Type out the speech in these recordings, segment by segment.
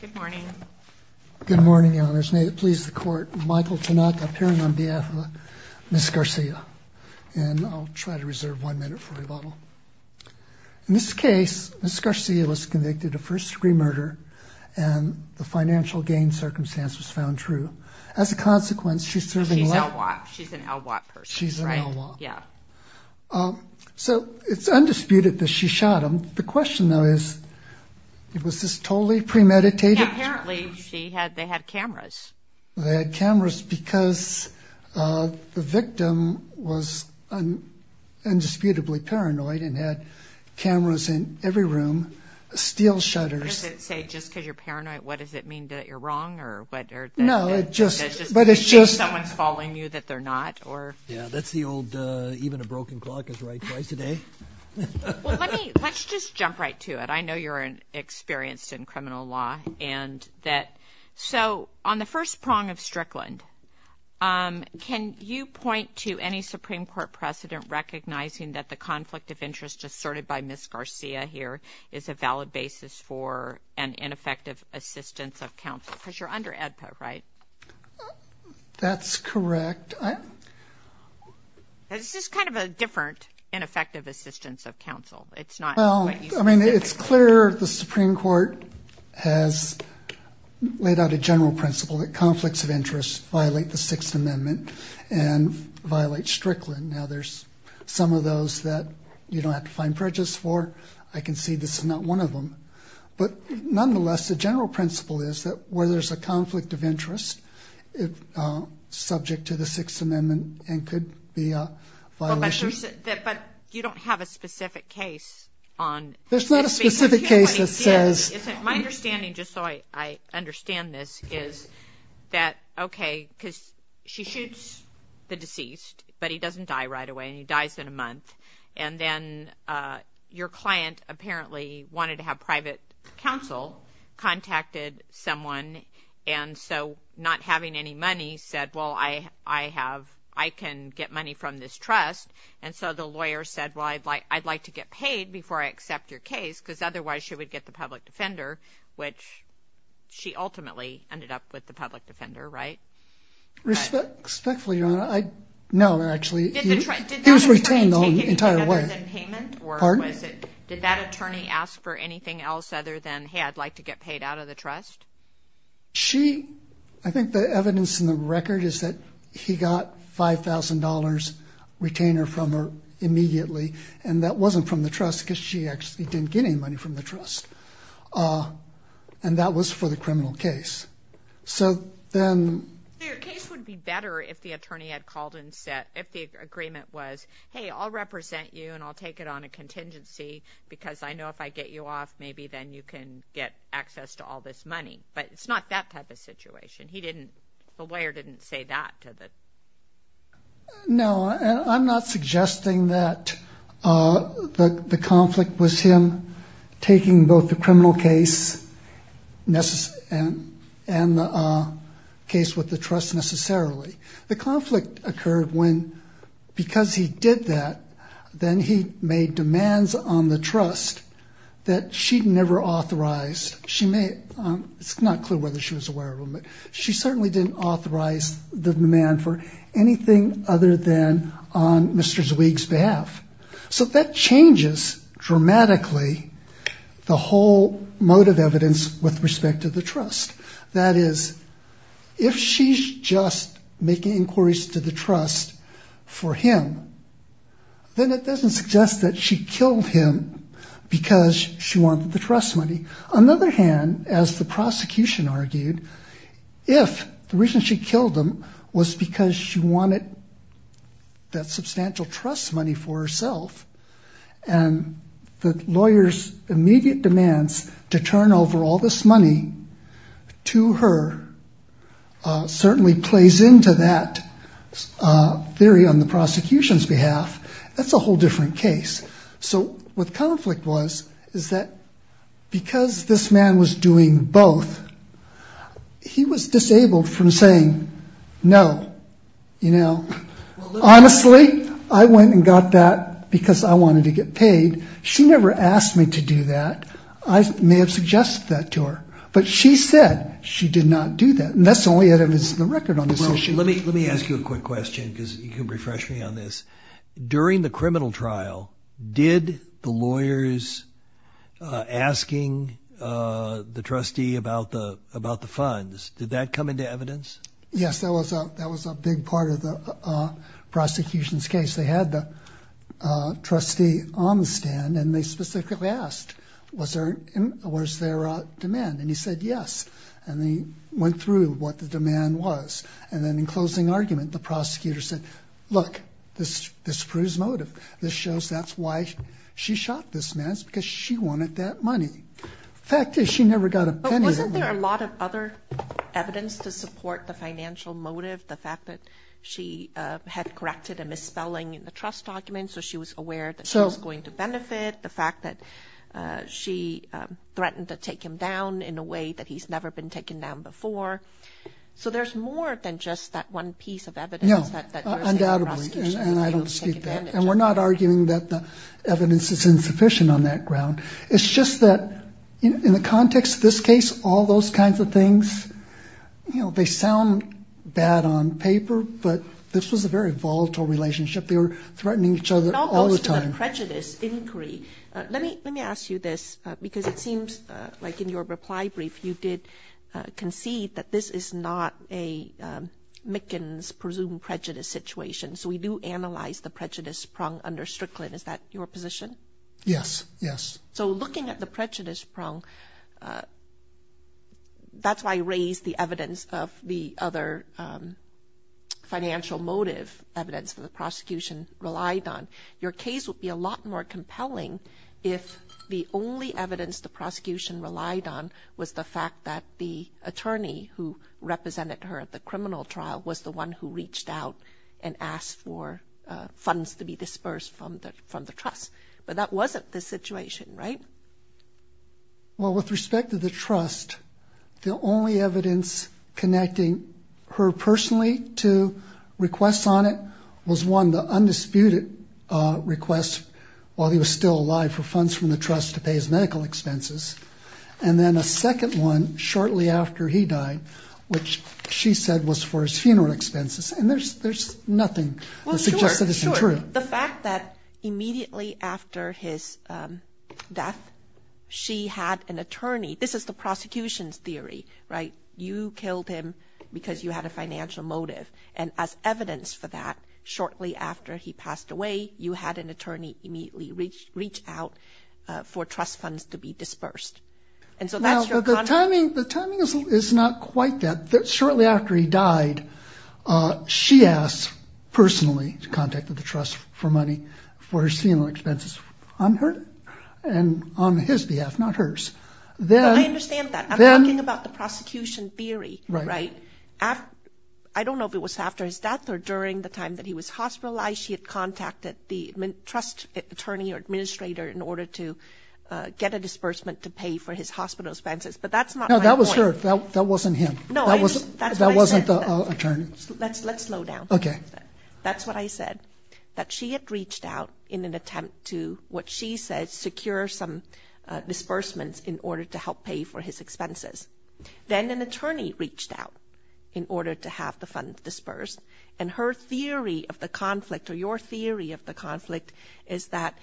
Good morning. Good morning, Your Honors. May it please the Court, Michael Tanaka appearing on behalf of Ms. Garcia, and I'll try to reserve one minute for rebuttal. In this case, Ms. Garcia was convicted of first-degree murder and the financial gain circumstance was found true. As a consequence, she's serving life. She's an LWAT person, right? She's an LWAT. Yeah. So it's undisputed that she shot him. The question, though, is was this totally premeditated? Apparently, they had cameras. They had cameras because the victim was indisputably paranoid and had cameras in every room, steel shutters. Does it say just because you're paranoid, what does it mean that you're wrong? No, it just means someone's following you that they're not. Yeah, that's the old saying, even a broken clock is right twice a day. Let's just jump right to it. I know you're experienced in criminal law and that, so on the first prong of Strickland, can you point to any Supreme Court precedent recognizing that the conflict of interest asserted by Ms. Garcia here is a valid basis for an ineffective assistance of counsel? Because you're under AEDPA, right? That's correct. This is kind of a different ineffective assistance of counsel. Well, I mean, it's clear the Supreme Court has laid out a general principle that conflicts of interest violate the Sixth Amendment and violate Strickland. Now, there's some of those that you don't have to find prejudice for. I can see this is not one of them, but nonetheless, the general principle is that where there's a conflict of interest, subject to the Sixth Amendment, and could be a violation. But you don't have a specific case on... There's not a specific case that says... My understanding, just so I understand this, is that, okay, because she shoots the deceased, but he doesn't die right away, and he dies in a month, and then your client apparently wanted to have private counsel contacted someone, and so not having any money said, well, I have... I can get money from this trust, and so the lawyer said, well, I'd like to get paid before I accept your case, because otherwise she would get the public defender, which she ultimately ended up with the public defender, right? Respectfully, Your Honor, no, actually, he was retained the entire way. Pardon? Did that attorney ask for anything else other than, hey, I'd like to get paid out of the trust? She... I think the evidence in the record is that he got $5,000 retainer from her immediately, and that wasn't from the trust, because she actually didn't get any money from the trust, and that was for the criminal case. So then... Your case would be better if the attorney had called and said... if the represent you, and I'll take it on a contingency, because I know if I get you off, maybe then you can get access to all this money, but it's not that type of situation. He didn't... the lawyer didn't say that to the... No, I'm not suggesting that the conflict was him taking both the criminal case and the case with the trust necessarily. The conflict occurred when, because he did that, then he made demands on the trust that she'd never authorized. She may... it's not clear whether she was aware of them, but she certainly didn't authorize the demand for anything other than on Mr. Zwieg's behalf. So that changes dramatically the whole mode of evidence with respect to the trust. That is, if she's just making inquiries to the trust for him, then it doesn't suggest that she killed him because she wanted the trust money. On the other hand, as the prosecution argued, if the reason she killed him was because she wanted that substantial trust money for herself, and the lawyer's immediate demands to turn over all this money to her certainly plays into that theory on the prosecution's behalf, that's a whole different case. So what the conflict was, is that because this man was doing both, he was disabled from saying no, you know. Honestly, I went and got that because I wanted to get paid. She never asked me to do that. I may have suggested that to her, but she said she did not do that, and that's the only evidence in the record on this issue. Let me ask you a quick question, because you can refresh me on this. During the did that come into evidence? Yes, that was a big part of the prosecution's case. They had the trustee on the stand, and they specifically asked, was there a demand? And he said yes, and they went through what the demand was, and then in closing argument, the prosecutor said, look, this proves motive. This shows that's why she shot this man. It's because she wanted that money. The fact is, she never got a penny. But wasn't there a lot of other evidence to support the financial motive, the fact that she had corrected a misspelling in the trust document, so she was aware that she was going to benefit, the fact that she threatened to take him down in a way that he's never been taken down before. So there's more than just that one piece of evidence. No, undoubtedly, and I don't seek that, and we're not arguing that the evidence is insufficient on that ground. It's just that, in the context of this case, all those kinds of things, you know, they sound bad on paper, but this was a very volatile relationship. They were threatening each other all the time. It all goes to the prejudice inquiry. Let me ask you this, because it seems like in your reply brief, you did concede that this is not a Mickens presumed prejudice situation. So we do analyze the prong under Strickland. Is that your position? Yes, yes. So looking at the prejudice prong, that's why you raised the evidence of the other financial motive evidence that the prosecution relied on. Your case would be a lot more compelling if the only evidence the prosecution relied on was the fact that the attorney who represented her at the criminal trial was the one who the trust. But that wasn't the situation, right? Well, with respect to the trust, the only evidence connecting her personally to requests on it was one, the undisputed request while he was still alive for funds from the trust to pay his medical expenses, and then a second one shortly after he died, which she said was for his funeral expenses, and there's nothing that suggests that isn't true. The fact that immediately after his death, she had an attorney, this is the prosecution's theory, right? You killed him because you had a financial motive, and as evidence for that, shortly after he passed away, you had an attorney immediately reach out for trust funds to be disbursed. And so that's your... The timing is not quite that. Shortly after he died, she asked personally to contact the trust for money for his funeral expenses on her and on his behalf, not hers. I understand that. I'm talking about the prosecution theory, right? I don't know if it was after his death or during the time that he was hospitalized. She had contacted the trust attorney or administrator in order to get a disbursement to pay for his hospital expenses, but that's not my point. No, that was her. That wasn't him. That wasn't the attorney. Let's slow down. Okay. That's what I said, that she had reached out in an attempt to, what she said, secure some disbursements in order to help pay for his expenses. Then an attorney reached out in order to have the funds disbursed, and her theory of the conflict or your theory of the conflict is that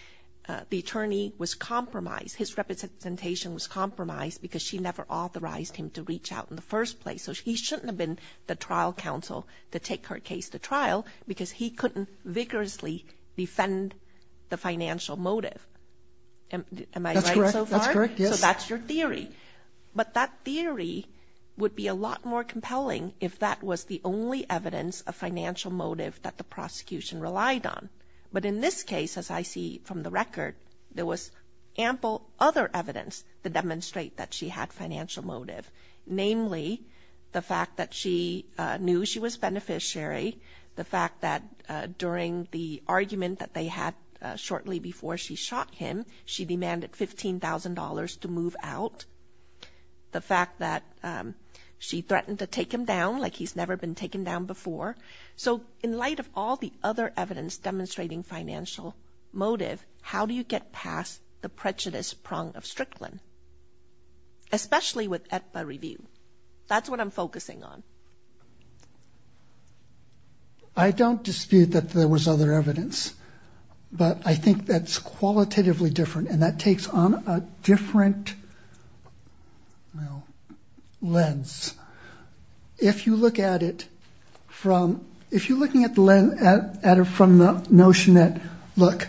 the attorney was compromised. His representation was compromised because she never authorized him to reach out in the first place. So he shouldn't have been the trial counsel to take her case to trial because he couldn't vigorously defend the financial motive. Am I right so far? That's correct. Yes. So that's your theory. But that theory would be a lot more compelling if that was the only evidence of financial motive that the prosecution relied on. But in this case, as I see from the record, there was ample other evidence to demonstrate that she had financial motive, namely the fact that she knew she was beneficiary, the fact that during the argument that they had shortly before she shot him, she demanded $15,000 to move out, the fact that she threatened to take him down like he's never been taken down before. So in light of all the other I don't dispute that there was other evidence, but I think that's qualitatively different and that takes on a different lens. If you look at it from, if you're looking at the notion that look,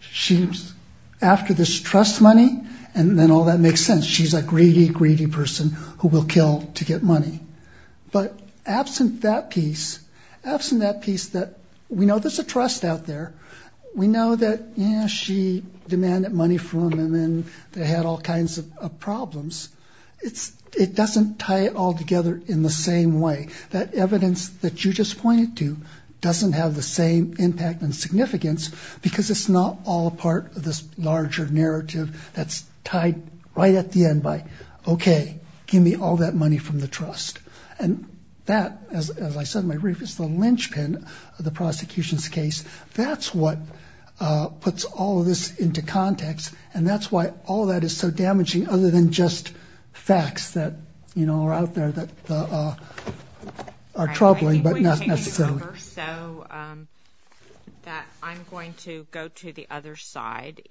she's after this trust money and then all that makes sense. She's a greedy, greedy person who will kill to get money. But absent that piece, absent that piece that we know there's a trust out there, we know that she demanded money from him and they had all kinds of problems. It doesn't tie it all together in the same way. That evidence that you just pointed to doesn't have the same impact and significance because it's not all a part of this larger narrative that's tied right at the end by, okay, give me all that money from the trust. And that, as I said in my brief, is the linchpin of the prosecution's case. That's what puts all of this into context and that's why all that is so damaging other than just facts that are out there that are troubling, but not necessarily. I think we've taken over, so I'm going to go to the other side.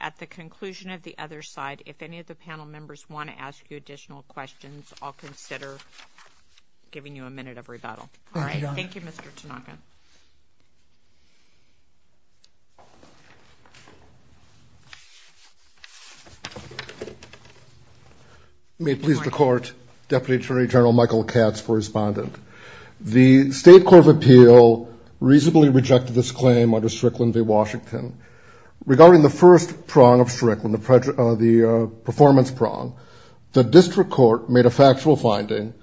At the conclusion of the other side, if any of the panel members want to ask you additional questions, I'll consider giving you a minute of rebuttal. Thank you, Your Honor. Thank you, Mr. Tanaka. May it please the Court, Deputy Attorney General Michael Katz for respondent. The State Court of Appeal reasonably rejected this claim under Strickland v. Washington. Regarding the first prong of Strickland, the performance prong, the district court made a factual finding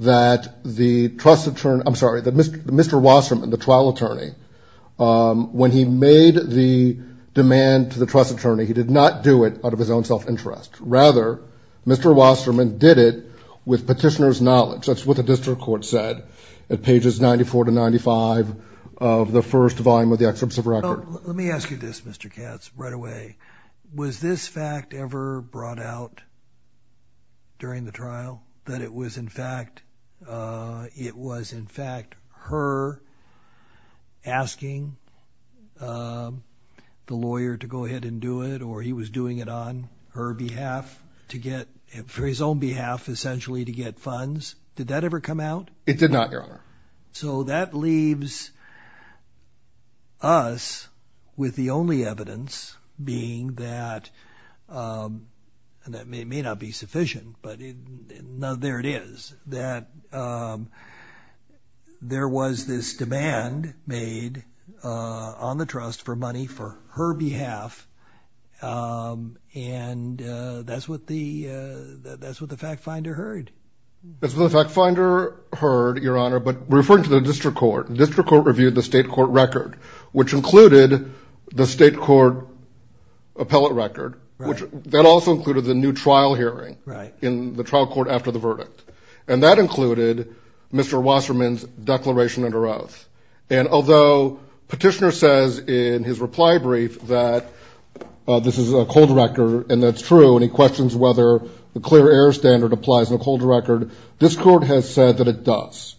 that the trust attorney, I'm sorry, Mr. Wasserman, the trial attorney, when he made the demand to the trust attorney, he did not do it out of his own self-interest. Rather, Mr. Wasserman did it with petitioner's knowledge. That's what the district court said at pages 94 to 95 of the first volume of the excerpts of record. Let me ask you this, Mr. Katz, right away. Was this fact ever brought out during the he was doing it on her behalf to get, for his own behalf, essentially to get funds? Did that ever come out? It did not, Your Honor. So that leaves us with the only evidence being that, and that may not be sufficient, but there it is, that there was this demand made on the trust for money for her behalf, and that's what the fact finder heard. That's what the fact finder heard, Your Honor, but we're referring to the district court. The district court reviewed the state court record, which included the state court appellate record, which that also included the new trial hearing in the trial court after the verdict, and that included Mr. Wasserman's declaration under oath, and although petitioner says in his reply brief that this is a cold record and that's true, and he questions whether the clear error standard applies in a cold record, this court has said that it does.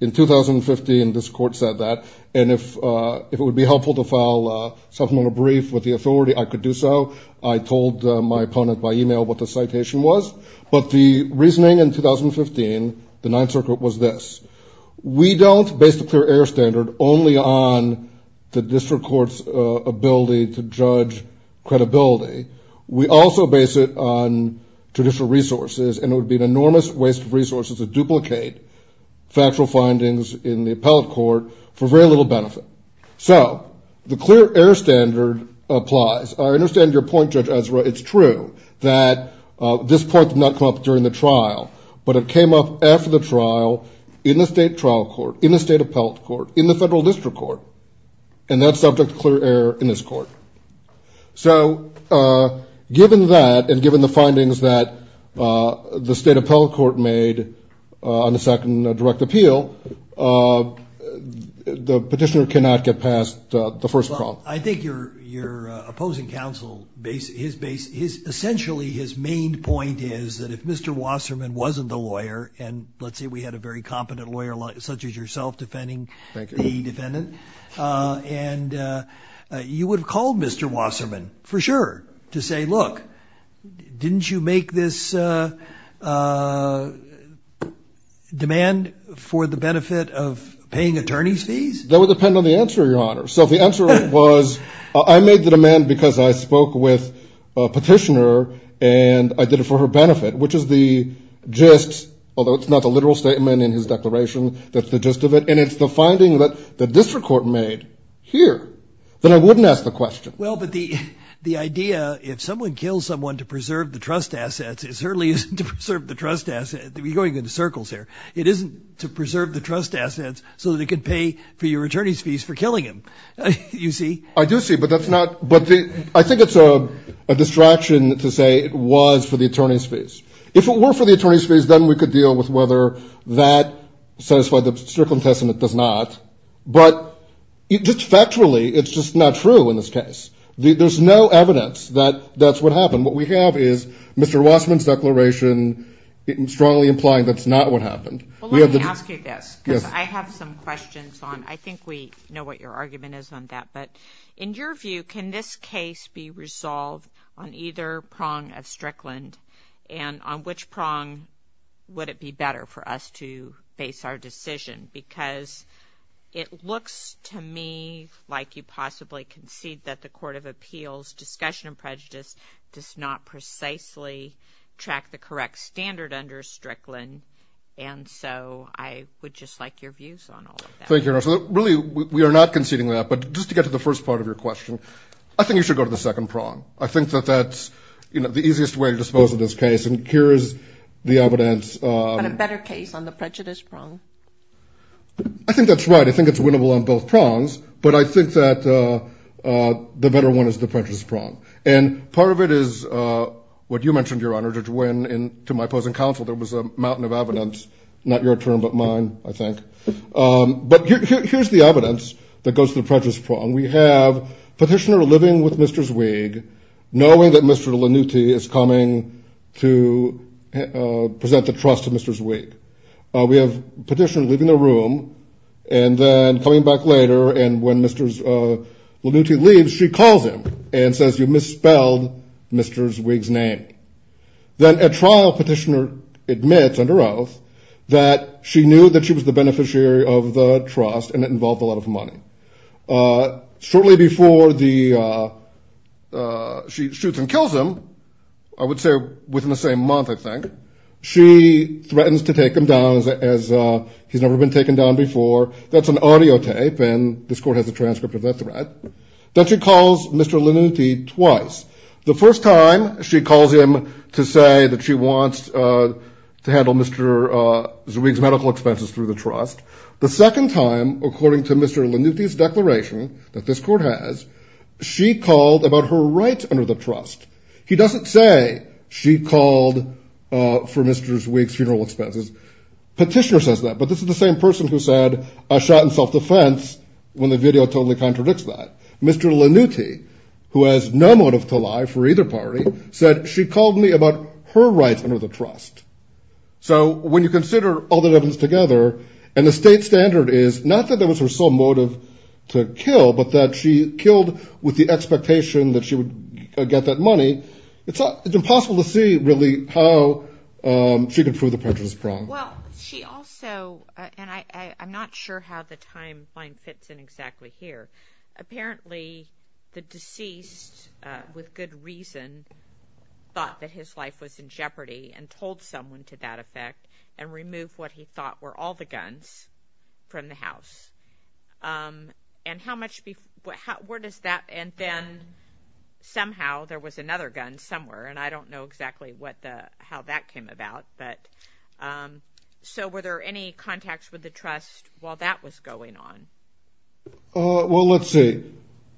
In 2015, this court said that, and if it would be helpful to file something on a brief with the authority, I could do so. I told my opponent by email what the citation was, but the reasoning in 2015, the Ninth Circuit, was this. We don't base the clear error standard only on the district court's ability to judge credibility. We also base it on traditional resources, and it would be an enormous waste of resources to duplicate factual findings in the appellate court for very little benefit. So the clear error standard applies. I understand your point, Judge Ezra. It's true that this point did not come up during the trial, but it came up after the trial in the state trial court, in the state appellate court, in the federal district court, and that's subject to clear error in this court. So given that and given the findings that the state appellate court made on the second direct appeal, the petitioner cannot get past the first problem. Well, I think your opposing counsel, essentially his main point is that if Mr. Wasserman wasn't the lawyer, and let's say we had a very competent lawyer such as yourself defending the defendant, and you would have called Mr. Wasserman for sure to say, look, didn't you make this demand for the benefit of paying attorney's fees? That would depend on the answer, Your Honor. So if the answer was, I made the demand because I spoke with a petitioner and I did it for her benefit, which is the gist, although it's not the literal statement in his declaration, that's the gist of it, and it's the finding that the district court made here, then I wouldn't ask the question. Well, but the idea, if someone kills someone to preserve the trust assets, it certainly isn't to preserve the trust assets. You're going in circles here. It isn't to preserve the trust assets so that it can pay for your attorney's fees for killing him. You see? I do see, but that's not, but I think it's a distraction to say it was for the attorney's fees. If it were for the attorney's fees, then we could deal with whether that satisfied the Strickland testament, does not, but just factually, it's just not true in this case. There's no evidence that that's what happened. What we have is Mr. Wasserman's declaration strongly implying that's not what happened. Well, let me ask you this, because I have some questions on, I think we know what your argument is on that, but in your view, can this case be resolved on either prong of Strickland, and on which prong would it be better for us to base our decision? Because it looks to me like you possibly concede that the Court of Appeals discussion of prejudice does not precisely track the correct standard under Strickland, and so I would just like your views on all of that. Thank you, Your Honor. Really, we are not conceding that, but just to get to the first part of your question, I think you should go to the second prong. I think that that's the easiest way to dispose of this case, and here is the evidence. But a better case on the prejudice prong. I think that's right. I think it's winnable on both prongs, but I think that the better one is the prejudice prong, and part of it is what you mentioned, Your Honor, that when, to my opposing counsel, there was a mountain of evidence, not your turn but mine, I think. But here's the evidence that goes to the prejudice prong. We have Petitioner living with Mr. Zweig, knowing that Mr. Lanuti is coming to present the trust to Mr. Zweig. We have Petitioner leaving the room and then coming back later, and when Mr. Lanuti leaves, she calls him and says, you misspelled Mr. Zweig's name. Then at trial, Petitioner admits under oath that she knew that she was the beneficiary of the trust and it involved a lot of money. Shortly before she shoots and kills him, I would say within the same month, I think, she threatens to take him down as he's never been taken down before. That's an audio tape, and this Court has a transcript of that threat. Then she calls Mr. Lanuti twice. The first time, she calls him to say that she wants to handle Mr. Zweig's medical expenses through the trust. The second time, according to Mr. Lanuti's declaration that this Court has, she called about her rights under the trust. He doesn't say she called for Mr. Zweig's funeral expenses. Petitioner says that, but this is the same person who said I shot in self-defense when the video totally contradicts that. Mr. Lanuti, who has no motive to lie for either party, said she called me about her rights under the trust. So when you consider all that happens together, and the state standard is not that that was her sole motive to kill, but that she killed with the expectation that she would get that money, it's impossible to see really how she could prove the prejudice problem. Well, she also, and I'm not sure how the timeline fits in exactly here. Apparently, the deceased, with good reason, thought that his life was in jeopardy and told someone to that effect and remove what he thought were all the guns from the house. And then somehow there was another gun somewhere, and I don't know exactly how that came about. So were there any contacts with the trust while that was going on? Well, let's see.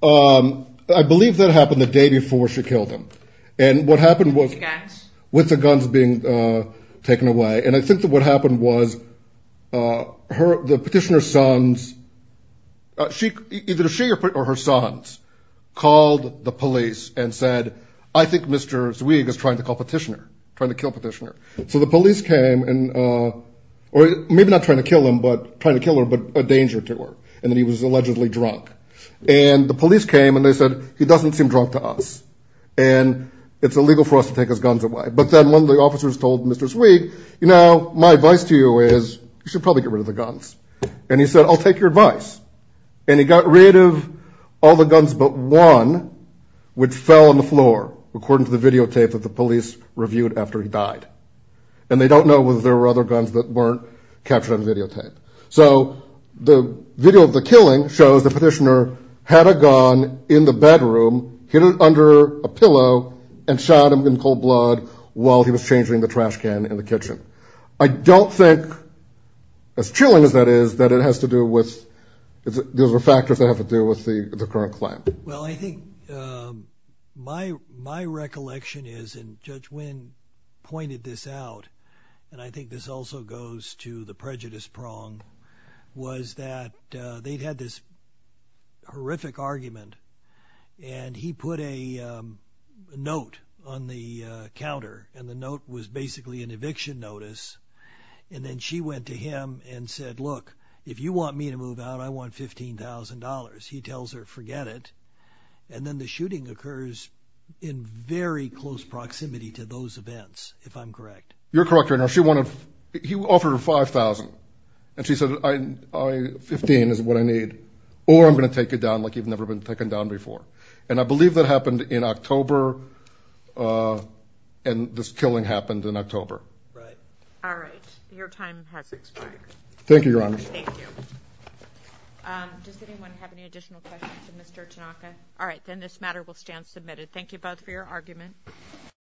I believe that happened the day before she killed him. And what happened was with the guns being taken away, and I think that what happened was the petitioner's sons, either she or her sons called the police and said, I think Mr. Zweig is trying to call petitioner, trying to kill petitioner. So the police came, or maybe not trying to kill him, but trying to kill her, but a danger to her. And then he was allegedly drunk. And the police came and they said, he doesn't seem drunk to us, and it's illegal for us to take his guns away. But then one of the officers told Mr. Zweig, you know, my advice to you is you should probably get rid of the guns. And he said, I'll take your advice. And he got rid of all the guns but one which fell on the floor, according to the videotape that the police reviewed after he died. And they don't know whether there were other guns that weren't captured on videotape. So the video of the killing shows the petitioner had a gun in the bedroom, hid it under a pillow, and shot him in cold blood while he was changing the trash can in the kitchen. I don't think, as chilling as that is, that it has to do with, those are factors that have to do with the current claim. Well, I think my recollection is, and Judge Wynn pointed this out, and I think this also goes to the prejudice prong, was that they had this horrific argument. And he put a note on the counter, and the note was basically an eviction notice. And then she went to him and said, look, if you want me to move out, I want $15,000. He tells her, forget it. And then the shooting occurs in very close proximity to those events, if I'm correct. You're correct, Your Honor. She wanted, he offered her $5,000. And she said, $15,000 is what I need, or I'm going to take you down like you've never been taken down before. And I believe that happened in October, and this killing happened in October. Right. All right. Your time has expired. Thank you, Your Honor. Thank you. Does anyone have any additional questions of Mr. Tanaka? All right. Then this matter will stand submitted. Thank you both for your argument.